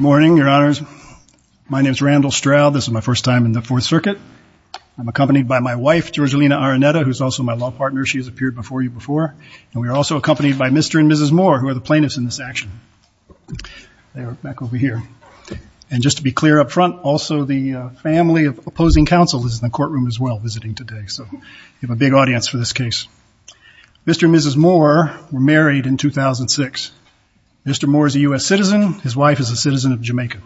morning your honors my name is Randall Stroud this is my first time in the Fourth Circuit I'm accompanied by my wife Georgina Araneta who's also my law partner she has appeared before you before and we are also accompanied by mr. and mrs. Moore who are the plaintiffs in this action they are back over here and just to be clear up front also the family of opposing counsel is in the courtroom as well visiting today so you have a big audience for this case mr. mrs. Moore were married in 2006 mr. Moore is a u.s. citizen his wife is a citizen of Jamaica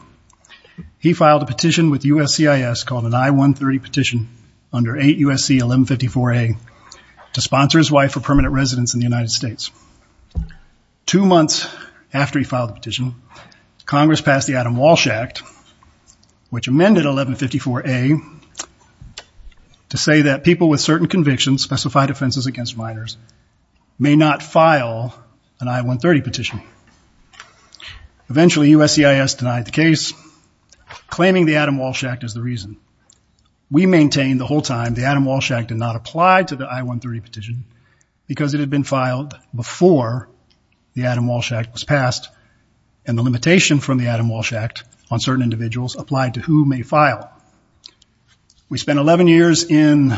he filed a petition with USC is called an i-130 petition under 8 USC 1154 a to sponsor his wife for permanent residence in the United States two months after he filed a petition Congress passed the Adam Walsh Act which amended 1154 a to say that people with certain convictions specified offenses against minors may not file an i-130 petition eventually USC is denied the case claiming the Adam Walsh Act is the reason we maintain the whole time the Adam Walsh Act did not apply to the i-130 petition because it had been filed before the Adam Walsh Act was passed and the limitation from the Adam Walsh Act on certain individuals applied to who may file we spent 11 years in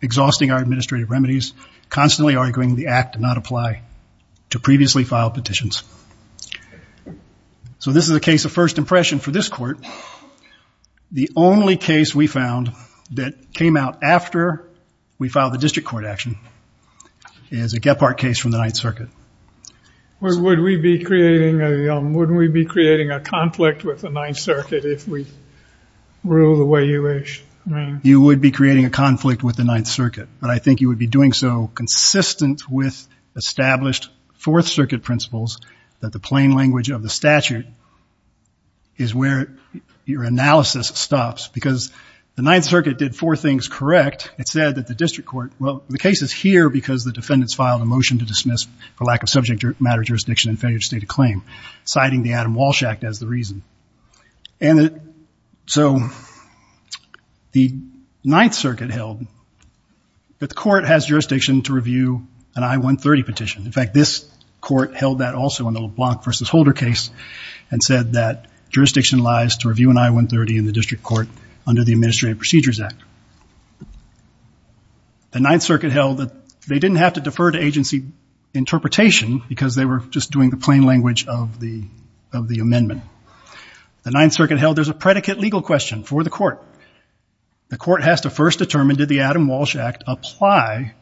exhausting our administrative remedies constantly arguing the act to not apply to previously filed petitions so this is a case of first impression for this court the only case we found that came out after we filed the district court action is a Gephardt case from the Ninth Circuit where would we be creating a wouldn't we be creating a conflict with the Ninth Circuit if we you would be creating a conflict with the Ninth Circuit but I think you would be doing so consistent with established Fourth Circuit principles that the plain language of the statute is where your analysis stops because the Ninth Circuit did four things correct it said that the district court well the case is here because the defendants filed a motion to dismiss for lack of subject matter jurisdiction and failure to state a claim citing the Adam Walsh Act as the reason and so the Ninth Circuit held that the court has jurisdiction to review an I-130 petition in fact this court held that also in the LeBlanc versus Holder case and said that jurisdiction lies to review an I-130 in the district court under the Administrative Procedures Act the Ninth Circuit held that they didn't have to defer to agency interpretation because they were just doing the plain language of the of the amendment the Ninth Circuit held there's a predicate legal question for the court the court has to first determine did the Adam Walsh Act apply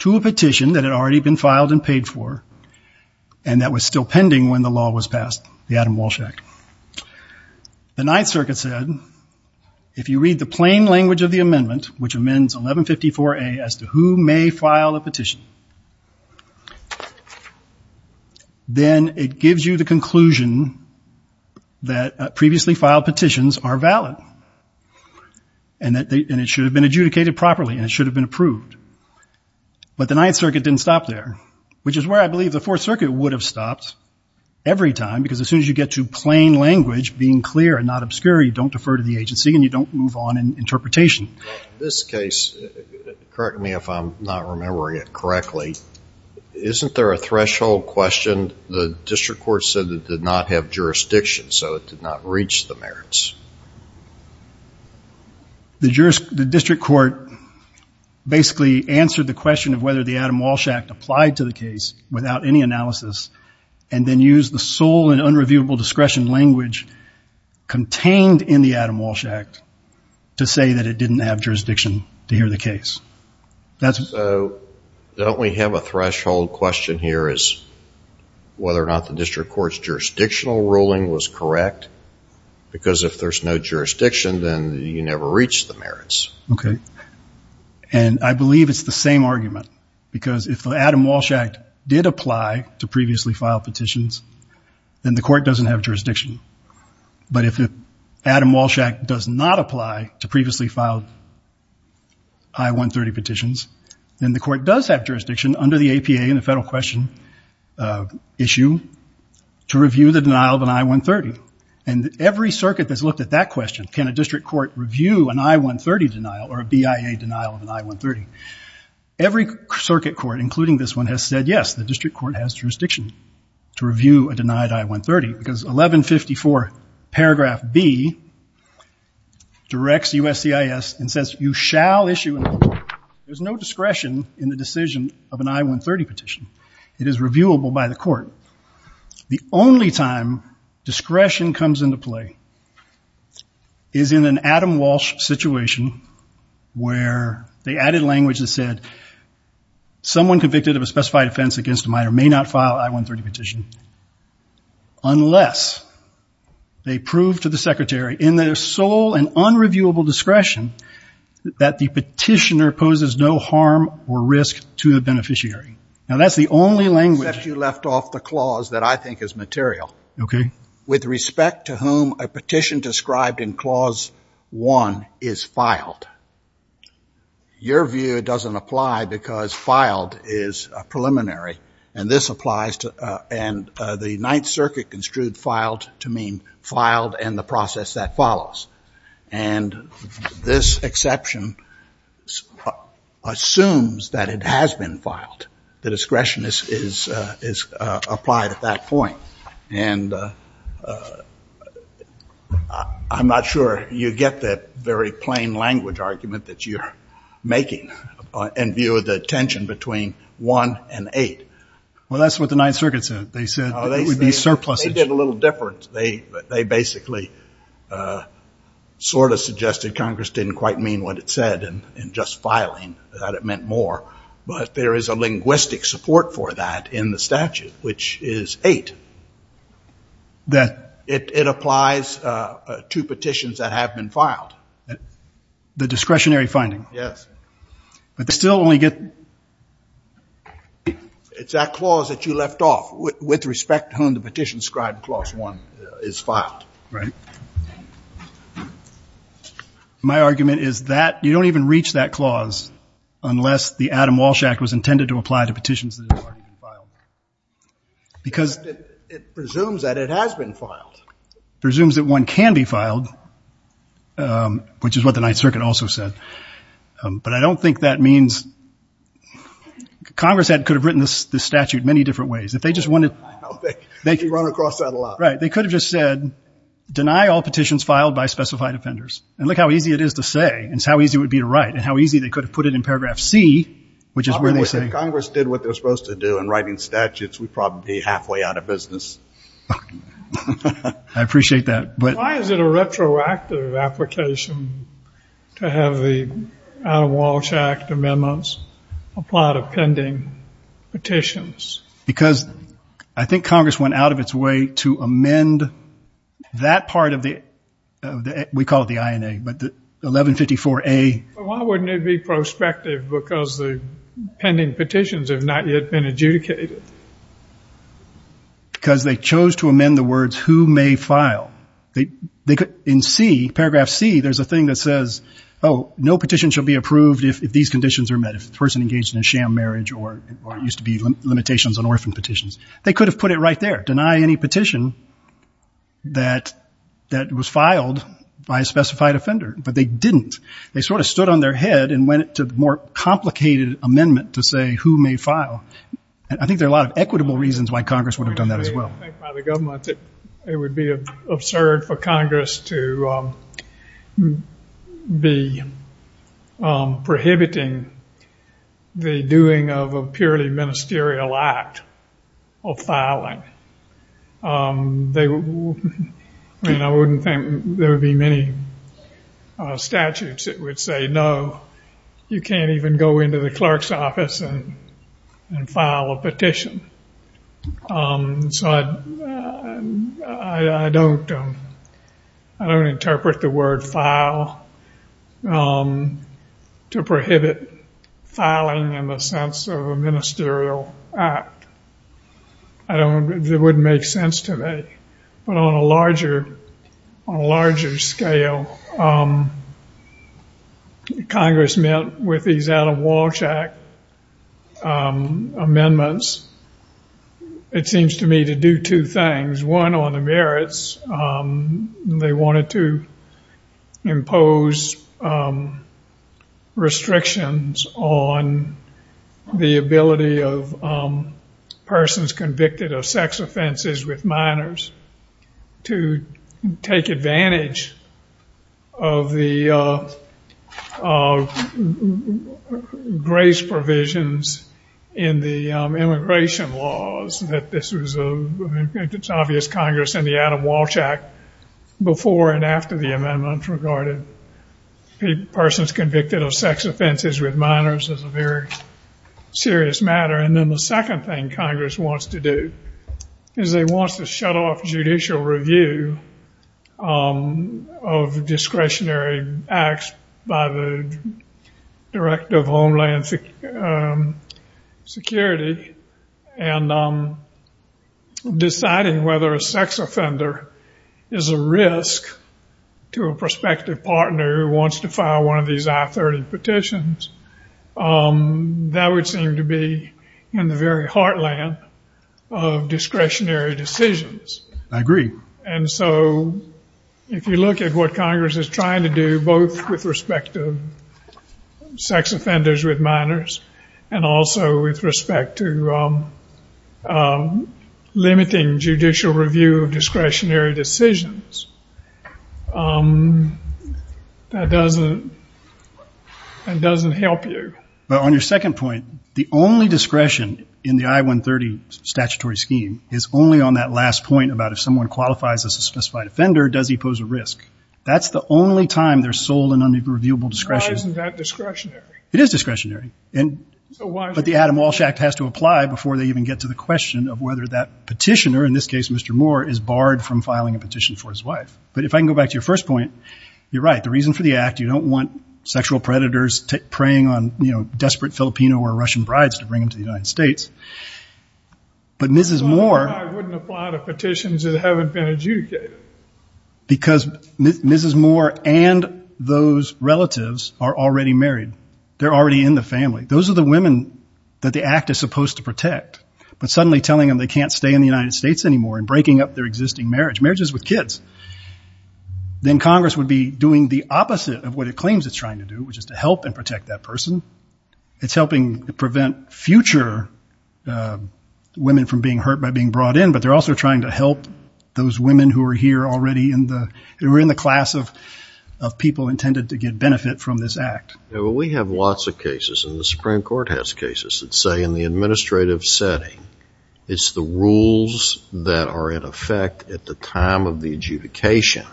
to a petition that had already been filed and paid for and that was still pending when the law was passed the Adam Walsh Act the Ninth Circuit said if you read the plain language of the amendment which amends 1154 a as to who may file a petition then it gives you the conclusion that previously filed petitions are valid and that they and it should have been adjudicated properly and it should have been approved but the Ninth Circuit didn't stop there which is where I believe the Fourth Circuit would have stopped every time because as soon as you get to plain language being clear and not obscure you don't defer to the agency and you don't move on in interpretation this case correct me if I'm not remembering it correctly isn't there a threshold question the district court said that did not have jurisdiction so it did not reach the merits the jurors the district court basically answered the question of whether the Adam Walsh Act applied to the case without any analysis and then use the sole and unreviewable discretion language contained in the Adam Walsh Act to say that it didn't have jurisdiction to hear the case that's so don't we have a threshold question here is whether or not the district courts jurisdictional ruling was correct because if there's no jurisdiction then you never reach the merits okay and I believe it's the same argument because if the Adam Walsh Act did apply to but if the Adam Walsh Act does not apply to previously filed I-130 petitions then the court does have jurisdiction under the APA in the federal question issue to review the denial of an I-130 and every circuit that's looked at that question can a district court review an I-130 denial or a BIA denial of an I-130 every circuit court including this one has said yes the district court has I-130 because 1154 paragraph B directs USCIS and says you shall issue there's no discretion in the decision of an I-130 petition it is reviewable by the court the only time discretion comes into play is in an Adam Walsh situation where they added language that said someone convicted of a specified offense against a minor may not file I-130 petition unless they prove to the secretary in their sole and unreviewable discretion that the petitioner poses no harm or risk to the beneficiary now that's the only language that you left off the clause that I think is material okay with respect to whom a petition described in clause one is filed your view doesn't apply because filed is a and this applies to and the Ninth Circuit construed filed to mean filed and the process that follows and this exception assumes that it has been filed the discretion is is is applied at that point and I'm not sure you get that very plain language argument that you're making in view of the tension between one and eight well that's what the Ninth Circuit said they said they would be surplus they did a little different they they basically sort of suggested Congress didn't quite mean what it said and in just filing that it meant more but there is a linguistic support for that in the statute which is eight that it applies to petitions that have been filed the discretionary finding yes but still only get it's that clause that you left off with respect to whom the petition scribe clause one is filed right my argument is that you don't even reach that clause unless the Adam Walsh act was intended to apply to petitions because it presumes that it has been filed presumes that one can be filed which is what the Ninth Circuit also said but I don't think that means Congress had could have written this the statute many different ways if they just wanted they can run across that a lot right they could have just said deny all petitions filed by specified offenders and look how easy it is to say it's how easy would be to write and how easy they could have put it in paragraph C which is where they say Congress did what they're supposed to do and writing statutes we probably halfway out of business I appreciate that but why is it a retroactive application to have the Walsh act amendments apply to pending petitions because I think Congress went out of its way to amend that part of the we call it the INA but the 1154 a why wouldn't it be prospective because the pending petitions have not yet been adjudicated because they chose to amend the words who may file they they could in C paragraph C there's a thing that says oh no petition shall be approved if these conditions are met if the person engaged in a sham marriage or used to be limitations on orphan petitions they could have put it right there deny any petition that that was filed by a specified offender but they didn't they sort of stood on their head and went to the more complicated amendment to say who may file and I think there are a lot of equitable reasons why Congress would have done that as well it would be absurd for Congress to be prohibiting the doing of a purely ministerial act of filing they I mean I wouldn't think there would be many statutes that would say no you can't even go into the clerk's office and file a petition so I don't I don't interpret the word file to prohibit filing in the sense of a ministerial act I don't it wouldn't make sense to me but on a larger on a larger scale Congress met with these out of Walsh Act amendments it seems to me to do two things one on the merits they wanted to impose restrictions on the ability of persons convicted of sex offenses with minors to take advantage of the grace provisions in the immigration laws that this was a obvious Congress in the out of Walsh Act before and after the amendment regarded persons convicted of sex offenses with minors as a very serious matter and then the second thing Congress wants to do is they want to shut off judicial review of discretionary acts by the Director of Homeland Security and deciding whether a sex offender is a risk to a prospective partner who wants to file one of these I-30 petitions that would seem to be in the very heartland of discretionary decisions I agree and so if you look at what Congress is trying to do both with respect to sex offenders with minors and also with respect to limiting judicial review of discretionary decisions that doesn't and doesn't help you but on your second point the only discretion in the I-130 statutory scheme is only on that last point about if someone qualifies as a specified offender does he pose a risk that's the only time they're sold an unreviewable discretionary it is discretionary and but the Adam Walsh Act has to apply before they even get to the question of whether that petitioner in this case mr. Moore is barred from filing a petition for his wife but if I can go back to your first point you're right the reason for the act you don't want sexual predators to preying on you know but mrs. Moore because mrs. Moore and those relatives are already married they're already in the family those are the women that the act is supposed to protect but suddenly telling them they can't stay in the United States anymore and breaking up their existing marriage marriages with kids then Congress would be doing the opposite of what it claims it's trying to do which is to help and women from being hurt by being brought in but they're also trying to help those women who are here already in the we're in the class of people intended to get benefit from this act we have lots of cases in the Supreme Court has cases that say in the administrative setting it's the rules that are in effect at the time of the adjudication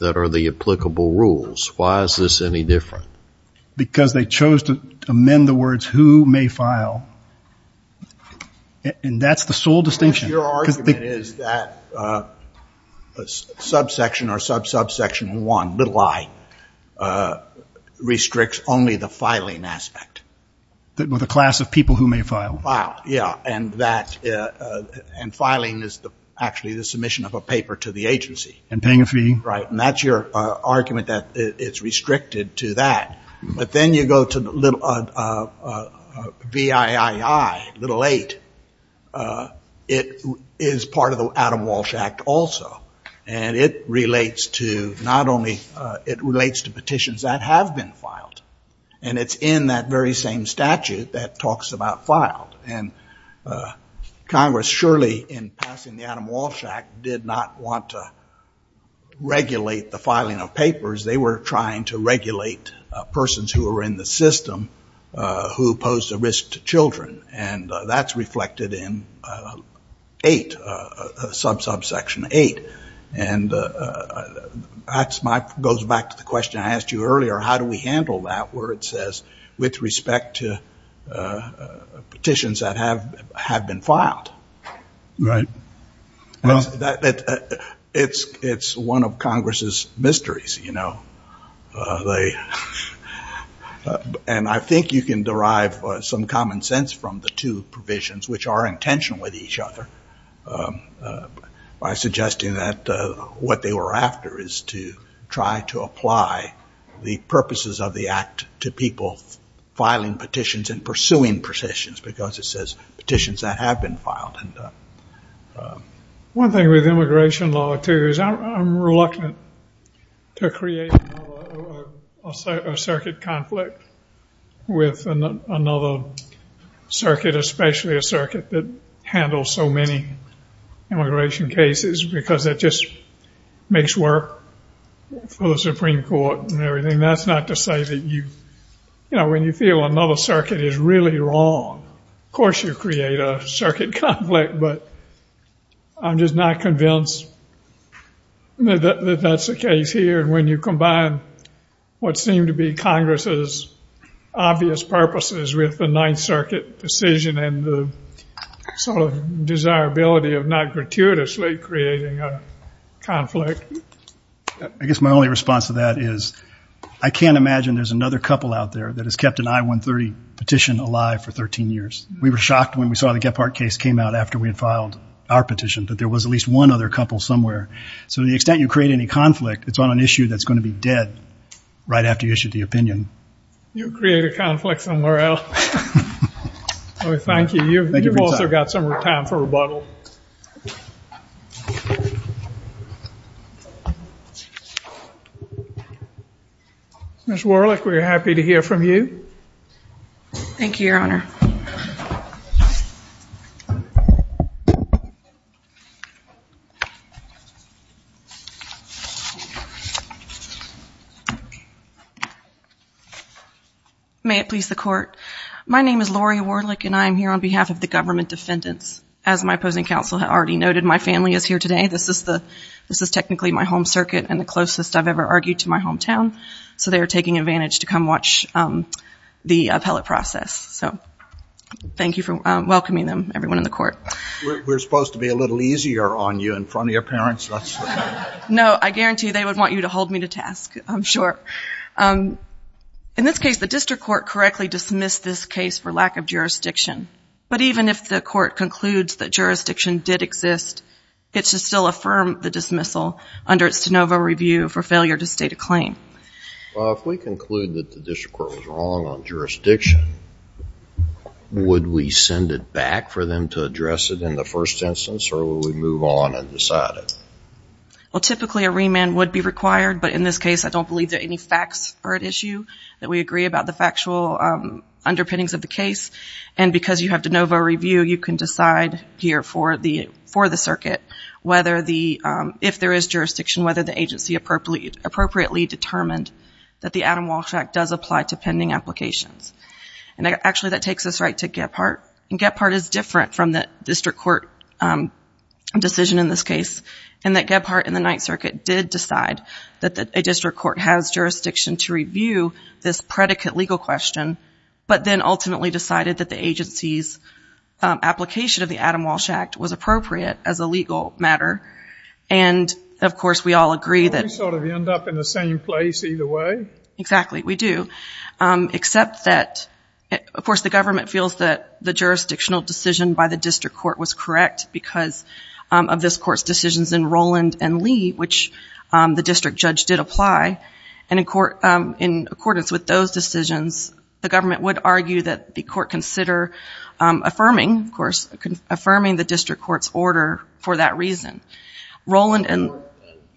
that are the applicable rules why is this any because they chose to amend the words who may file and that's the sole distinction your argument is that a subsection or sub subsection one little I restricts only the filing aspect that with a class of people who may file Wow yeah and that and filing is the actually the submission of a paper to the agency and paying a fee right and that's your argument that it's restricted to that but then you go to the little viii little eight it is part of the Adam Walsh Act also and it relates to not only it relates to petitions that have been filed and it's in that very same statute that talks about filed and Congress surely in passing the Adam Walsh Act did not want to regulate the filing of papers they were trying to regulate persons who were in the system who posed a risk to children and that's reflected in eight sub subsection eight and that's my goes back to the question I asked you earlier how do we handle that where it says with respect to petitions that have have been filed right well that it's it's one of Congress's mysteries you know they and I think you can derive some common sense from the two provisions which are intentional with each other by suggesting that what they were after is to try to apply the purposes of the act to people filing petitions and pursuing petitions because it says petitions that have been filed and one thing with immigration law to is I'm reluctant to create a circuit conflict with another circuit especially a circuit that handles so many immigration cases because that just makes work for the Supreme Court and everything that's not to say that you you know when you feel another circuit is really wrong of course you create a circuit conflict but I'm just not convinced that that's the case here and when you combine what seemed to be Congress's obvious purposes with the Ninth Circuit decision and the sort of desirability of not gratuitously creating a conflict I guess my only response to that is I can't imagine there's another couple out there that has kept an I-130 petition alive for 13 years we were shocked when we saw the Gephardt case came out after we had filed our petition but there was at least one other couple somewhere so the extent you create any conflict it's on an issue that's going to be dead right after you issued the opinion you create a conflict somewhere else thank you you've also got some more time for rebuttal miss Warlick we're happy to hear from you thank you your honor may it please the court my name is Laurie Warlick and I am here on behalf of the government defendants as my opposing counsel had already noted my family is here today this is the this is technically my home circuit and the closest I've ever argued to my hometown so they are taking advantage to come watch the appellate process so thank you for welcoming them everyone in the court we're supposed to be a little easier on you in front of your parents that's no I guarantee they would want you to hold me to task I'm sure in this case the district court correctly dismissed this case for lack of jurisdiction but even if the court concludes that jurisdiction did exist it should still affirm the dismissal under its de novo review for failure to state a claim if we conclude that the district court was wrong on jurisdiction would we send it back for them to address it in the first instance or will we move on and decide it well typically a remand would be required but in this case I don't believe that any facts are at issue that we agree about the factual underpinnings of the case and because you have de novo review you can decide here for the for the circuit whether the if there is jurisdiction whether the agency appropriately appropriately determined that the Adam Walsh Act does apply to pending applications and actually that takes us right to get part and get part is different from the district court decision in this case and that get part in the Ninth Circuit did decide that the district court has jurisdiction to review this predicate legal question but then ultimately decided that the agency's application of the Adam Walsh Act was appropriate as a legal matter and of course we all agree that sort of end up in the same place either way exactly we do except that of course the government feels that the jurisdictional decision by the district court was correct because of this court's decisions in Roland and Lee which the district judge did apply and in court in accordance with those decisions the government would argue that the court consider affirming of course affirming the district courts order for that reason Roland and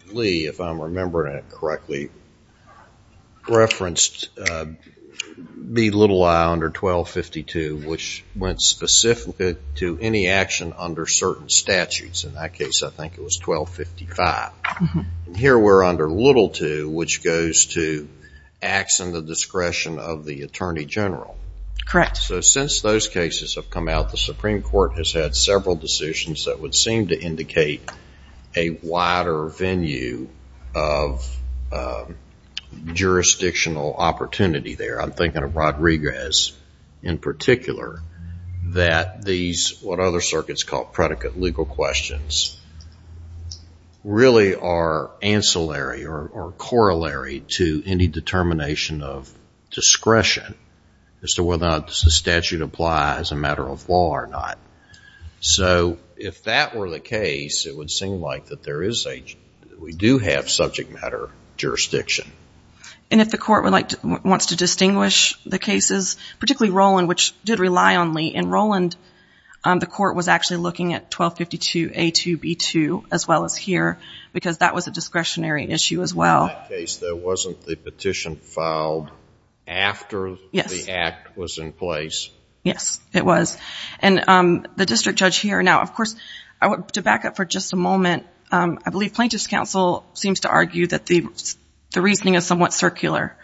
Lee if I'm remembering it correctly referenced the little I under 1252 which went specific to any action under certain statutes in that case I think it was 1255 here we're under little to which goes to acts in the discretion of the Attorney General correct so since those cases have come out the Supreme Court has had several decisions that would seem to indicate a wider venue of jurisdictional opportunity there I'm thinking of Rodriguez in particular that these what other circuits called predicate legal questions really are ancillary or corollary to any determination of discretion as to whether or not the statute applies a matter of law or not so if that were the case it would seem like that there is a we do have subject matter jurisdiction and if the court would like to wants to distinguish the cases particularly Roland which did rely on Lee in Roland the court was actually looking at 1252 a to b2 as well as here because that was a discretionary issue as well there wasn't the petition filed after yes the act was in place yes it was and the district judge here now of course I want to back up for just a the reasoning is somewhat circular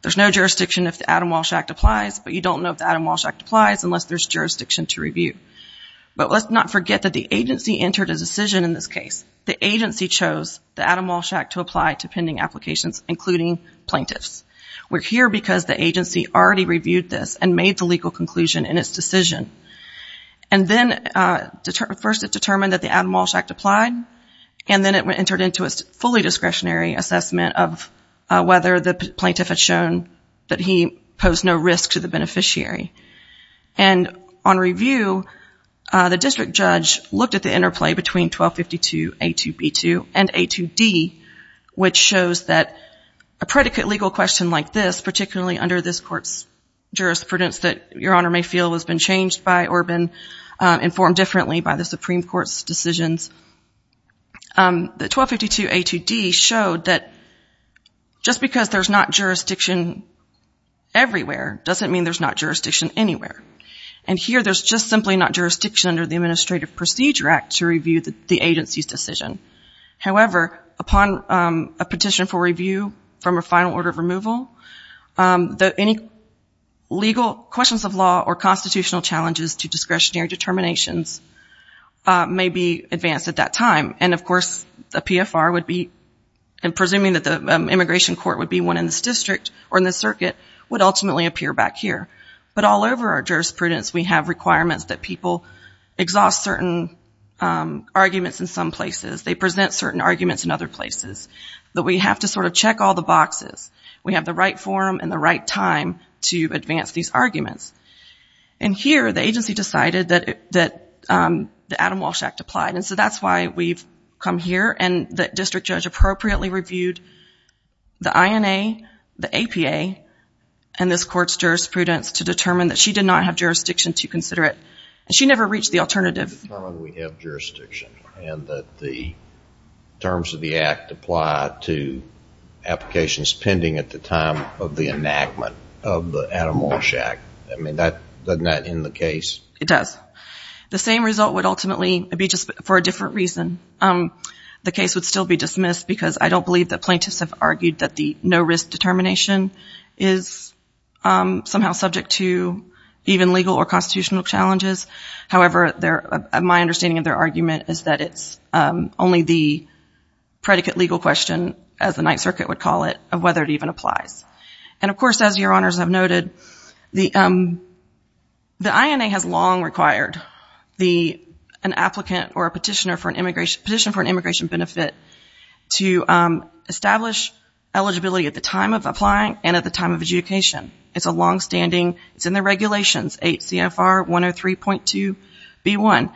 there's no jurisdiction if the Adam Walsh Act applies but you don't know if the Adam Walsh Act applies unless there's jurisdiction to review but let's not forget that the agency entered a decision in this case the agency chose the Adam Walsh Act to apply to pending applications including plaintiffs we're here because the agency already reviewed this and made the legal conclusion in its decision and then first it determined that the Adam Walsh Act applied and then it went entered into a fully discretionary assessment of whether the plaintiff had shown that he posed no risk to the beneficiary and on review the district judge looked at the interplay between 1252 a to b2 and a to d which shows that a predicate legal question like this particularly under this courts jurisprudence that your honor may feel has been changed by or been informed differently by the 1252 a to d showed that just because there's not jurisdiction everywhere doesn't mean there's not jurisdiction anywhere and here there's just simply not jurisdiction under the Administrative Procedure Act to review the agency's decision however upon a petition for review from a final order of removal that any legal questions of law or constitutional challenges to discretionary determinations may be advanced at that time and of course the CFR would be and presuming that the immigration court would be one in this district or in the circuit would ultimately appear back here but all over our jurisprudence we have requirements that people exhaust certain arguments in some places they present certain arguments in other places that we have to sort of check all the boxes we have the right forum and the right time to advance these arguments and here the agency decided that that the Adam Walsh Act applied and so that's why we've come here and that district judge appropriately reviewed the INA the APA and this court's jurisprudence to determine that she did not have jurisdiction to consider it and she never reached the alternative we have jurisdiction and that the terms of the act apply to applications pending at the time of the enactment of the Adam Walsh Act I mean that doesn't that in the case it does the same result would ultimately be just for a different reason the case would still be dismissed because I don't believe that plaintiffs have argued that the no risk determination is somehow subject to even legal or constitutional challenges however there my understanding of their argument is that it's only the predicate legal question as the Ninth Circuit would call it of whether it even applies and of course as your honors have noted the the INA has long required the an applicant or a petitioner for an immigration petition for an immigration benefit to establish eligibility at the time of applying and at the time of adjudication it's a long-standing it's in the regulations 8 CFR 103.2 b1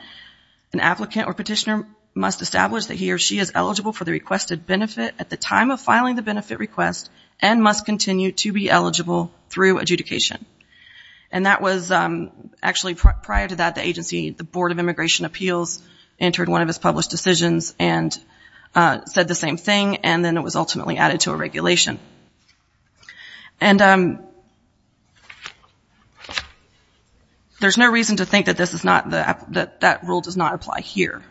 an applicant or petitioner must establish that he or she is eligible for the benefit at the time of filing the benefit request and must continue to be eligible through adjudication and that was actually prior to that the agency the Board of Immigration Appeals entered one of his published decisions and said the same thing and then it was ultimately added to a regulation and there's no reason to think that this is not that that rule does not apply here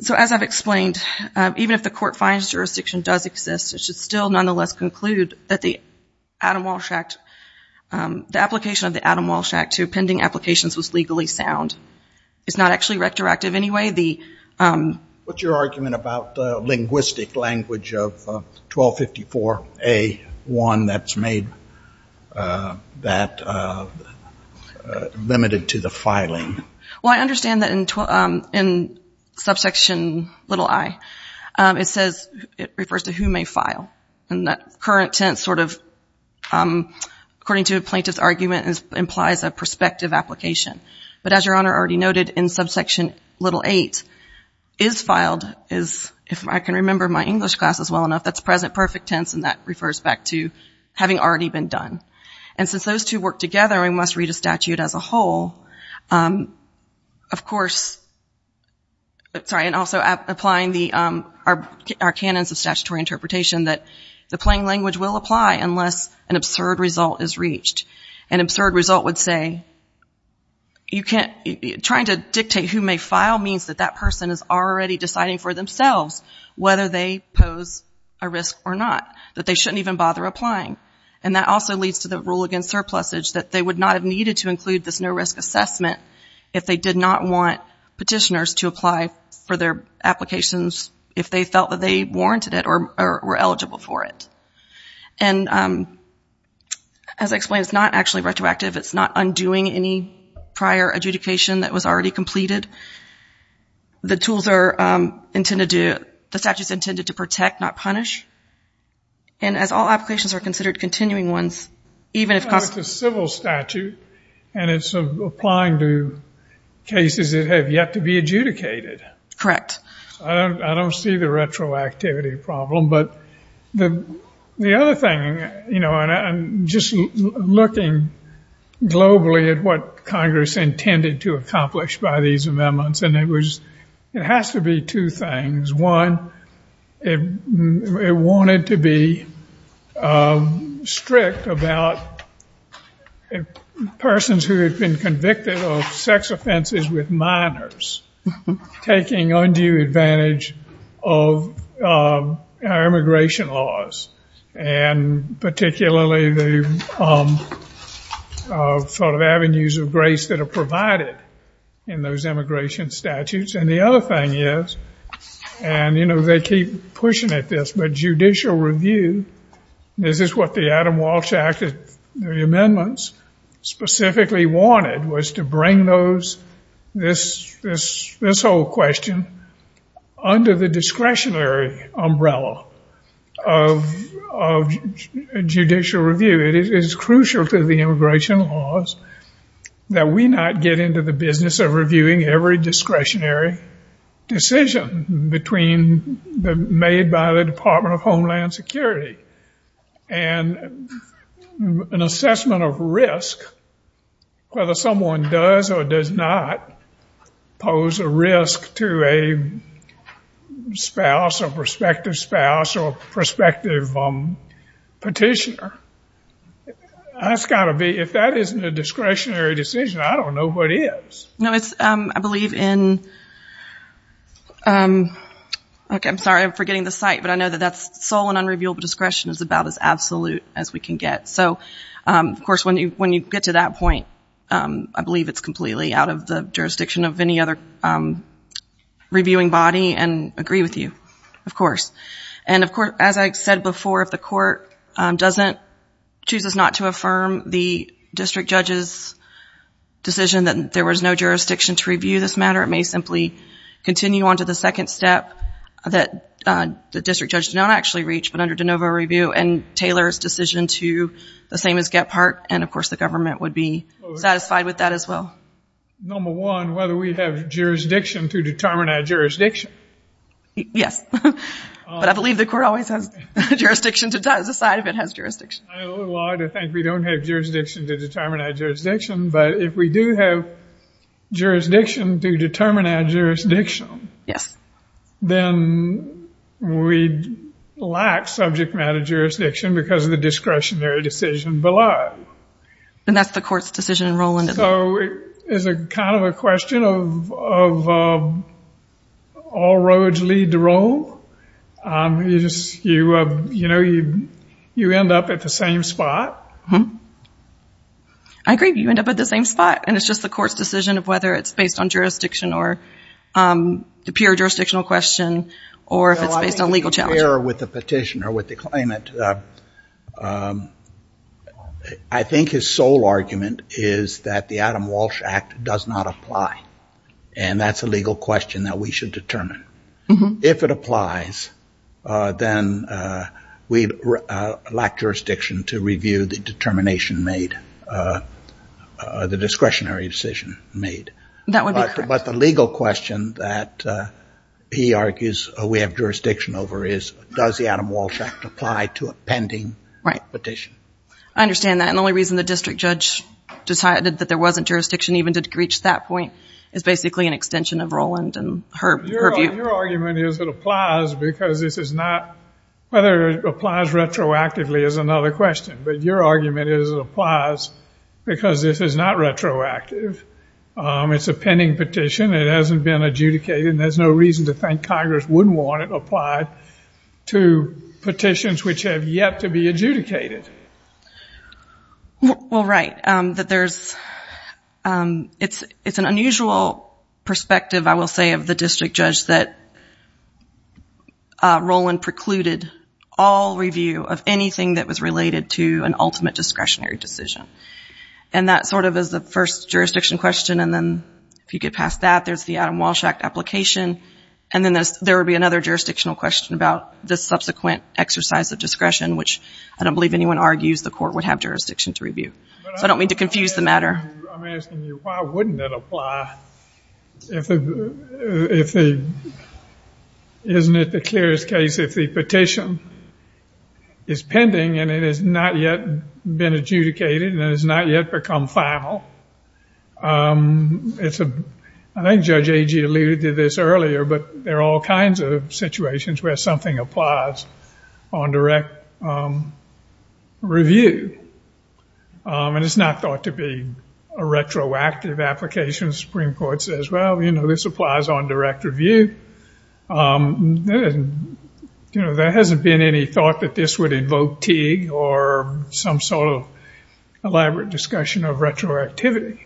so as I've explained even if the court finds jurisdiction does exist it should still nonetheless conclude that the Adam Walsh Act the application of the Adam Walsh Act to pending applications was legally sound it's not actually retroactive anyway the what's your argument about linguistic language of 1254 a one that's made that limited to the filing well I understand that in subsection little I it says it refers to who may file and that current tense sort of according to a plaintiff's argument is implies a prospective application but as your honor already noted in subsection little eight is filed is if I can remember my English classes well enough that's present perfect tense and that refers back to having already been done and since those two work together we must read a statute as a whole of course sorry and also applying the our canons of statutory interpretation that the plain language will apply unless an absurd result is reached an absurd result would say you can't be trying to dictate who may file means that that person is already deciding for themselves whether they pose a risk or not that they shouldn't even bother applying and that also leads to the rule against surplus age that they would not have needed to include this no risk assessment if they did not want petitioners to apply for their applications if they felt that they warranted it or were eligible for it and as I explained it's not actually retroactive it's not undoing any prior adjudication that was already completed the tools are intended to the statutes and as all applications are considered continuing ones even if possible statute and it's applying to cases that have yet to be adjudicated correct I don't see the retroactivity problem but the the other thing you know and I'm just looking globally at what Congress intended to accomplish by these strict about persons who have been convicted of sex offenses with minors taking undue advantage of our immigration laws and particularly the sort of avenues of grace that are provided in those immigration statutes and the other thing is and you know they keep pushing at this but judicial review this is what the Adam Walsh Act amendments specifically wanted was to bring those this this this whole question under the discretionary umbrella of judicial review it is crucial to the immigration laws that we not get into the business of reviewing every discretionary decision between the made by the Department of Homeland Security and an assessment of risk whether someone does or does not pose a risk to a spouse or prospective spouse or prospective petitioner that's got to be if that isn't a discretionary decision I don't know what is no it's I believe in okay I'm sorry I'm forgetting the site but I know that that's sole and unrevealable discretion is about as absolute as we can get so of course when you when you get to that point I believe it's completely out of the jurisdiction of any other reviewing body and agree with you of course and of course as I said before if the court doesn't choose is not to affirm the district judge's decision that there was no jurisdiction to review this matter it may simply continue on to the second step that the district judge don't actually reach but under de novo review and Taylor's decision to the same as get part and of course the government would be satisfied with that as well number one whether we have jurisdiction to determine our jurisdiction yes but I believe the court always has jurisdiction to decide if it has jurisdiction I think we don't have jurisdiction to determine our jurisdiction but if we do have jurisdiction to determine our jurisdiction yes then we lack subject matter jurisdiction because of the discretionary decision below and that's the court's decision enrollment so it is kind of a question of all roads lead to roll you just you you know you you end up at the same spot hmm I agree you end up at the same spot and it's just the court's decision of whether it's based on jurisdiction or the pure jurisdictional question or if it's based on legal challenge error with the petitioner with the climate I think his sole argument is that the Adam Walsh Act does not apply and that's a legal question that we should determine if it applies then we lack jurisdiction to review the determination made the discretionary decision made that would be but the legal question that he argues we have jurisdiction over is does the Adam Walsh Act apply to a pending right petition I understand that and the only reason the district judge decided that there wasn't jurisdiction even to reach that point is basically an extension of Roland and her argument is it applies because this is not whether it applies retroactively is another question but your argument is it applies because this is not retroactive it's a pending petition it hasn't been adjudicated there's no reason to think Congress wouldn't want it applied to petitions which have yet to be adjudicated well right that there's it's it's an unusual perspective I will say of the district judge that Roland precluded all review of anything that was related to an ultimate discretionary decision and that sort of is the first jurisdiction question and then if you get past that there's the Adam Walsh Act application and then there would be another jurisdictional question about this subsequent exercise of discretion which I don't believe anyone argues the court would have jurisdiction to review so I don't mean to confuse the matter I'm asking you why wouldn't it apply if it isn't it the clearest case if the petition is pending and it has not yet been adjudicated and has not yet become final it's a I think Judge Agee alluded to this earlier but there are all kinds of situations where something applies on direct review and it's not thought to be a retroactive application Supreme Court says well you know this applies on direct review you know there hasn't been any thought that this would invoke Teague or some sort of elaborate discussion of retroactivity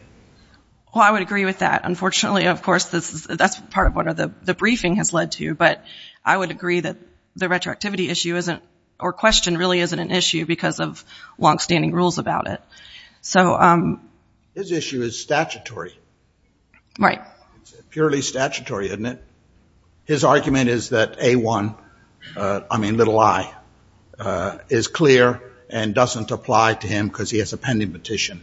well I would agree with that unfortunately of course this is that's part of what are the the briefing has led to but I would agree that the retroactivity issue isn't or question really isn't an issue because of long-standing rules about it so this issue is statutory right purely statutory isn't it his argument is that a one I mean little I is clear and doesn't apply to him because he has a pending petition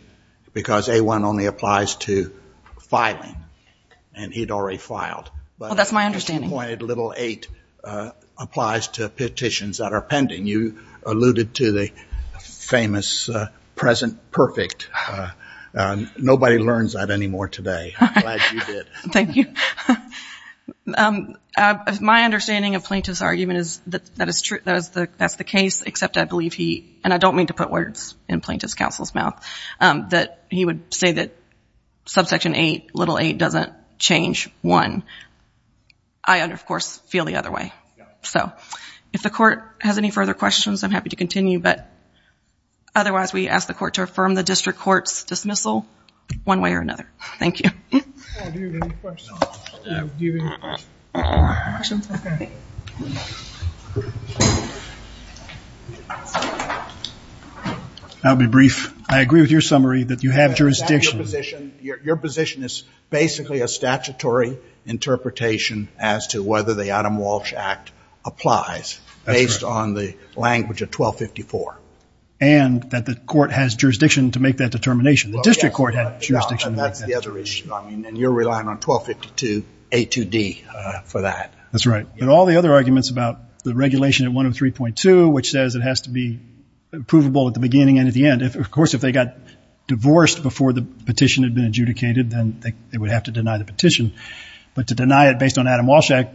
because a one only applies to filing and he'd already filed but that's my understanding little eight applies to petitions that are pending you alluded to the famous present-perfect nobody learns that anymore today thank you my understanding of plaintiff's argument is that that is true that is the best the case except I believe he and I don't mean to put words in plaintiff's counsel's mouth that he would say that subsection eight little eight doesn't change one I under of course feel the other way so if the court has any further questions I'm happy to continue but otherwise we ask the court to affirm the district courts dismissal one way or another thank you I'll be brief I agree with your summary that you have jurisdiction your position is basically a statutory interpretation as to whether the Adam Walsh Act applies based on the language of 1254 and that the court has jurisdiction to make that a 2d for that that's right but all the other arguments about the regulation at 103.2 which says it has to be provable at the beginning and at the end if of course if they got divorced before the petition had been adjudicated then they would have to deny the petition but to deny it based on Adam Walsh Act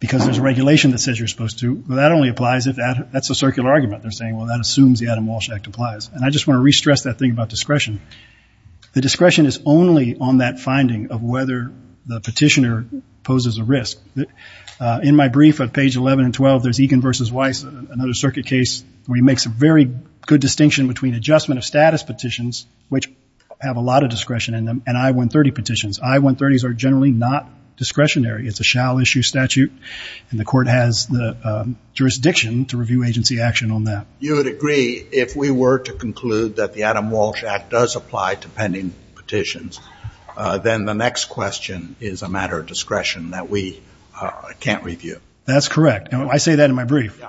because there's a regulation that says you're supposed to that only applies if that that's a circular argument they're saying well that assumes the Adam Walsh Act applies and I just want to restress that thing about discretion the whether the petitioner poses a risk in my brief of page 11 and 12 there's Egan versus Weiss another circuit case where he makes a very good distinction between adjustment of status petitions which have a lot of discretion in them and I 130 petitions I 130s are generally not discretionary it's a shall issue statute and the court has the jurisdiction to review agency action on that you would agree if we were to conclude that the Adam Walsh Act does apply to pending petitions then the next question is a matter of discretion that we can't review that's correct and I say that in my brief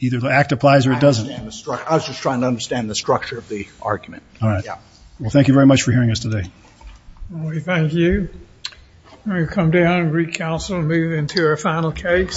either the act applies or it doesn't I was just trying to understand the structure of the argument all right yeah well thank you very much for hearing us today thank you come down recouncil move into our final case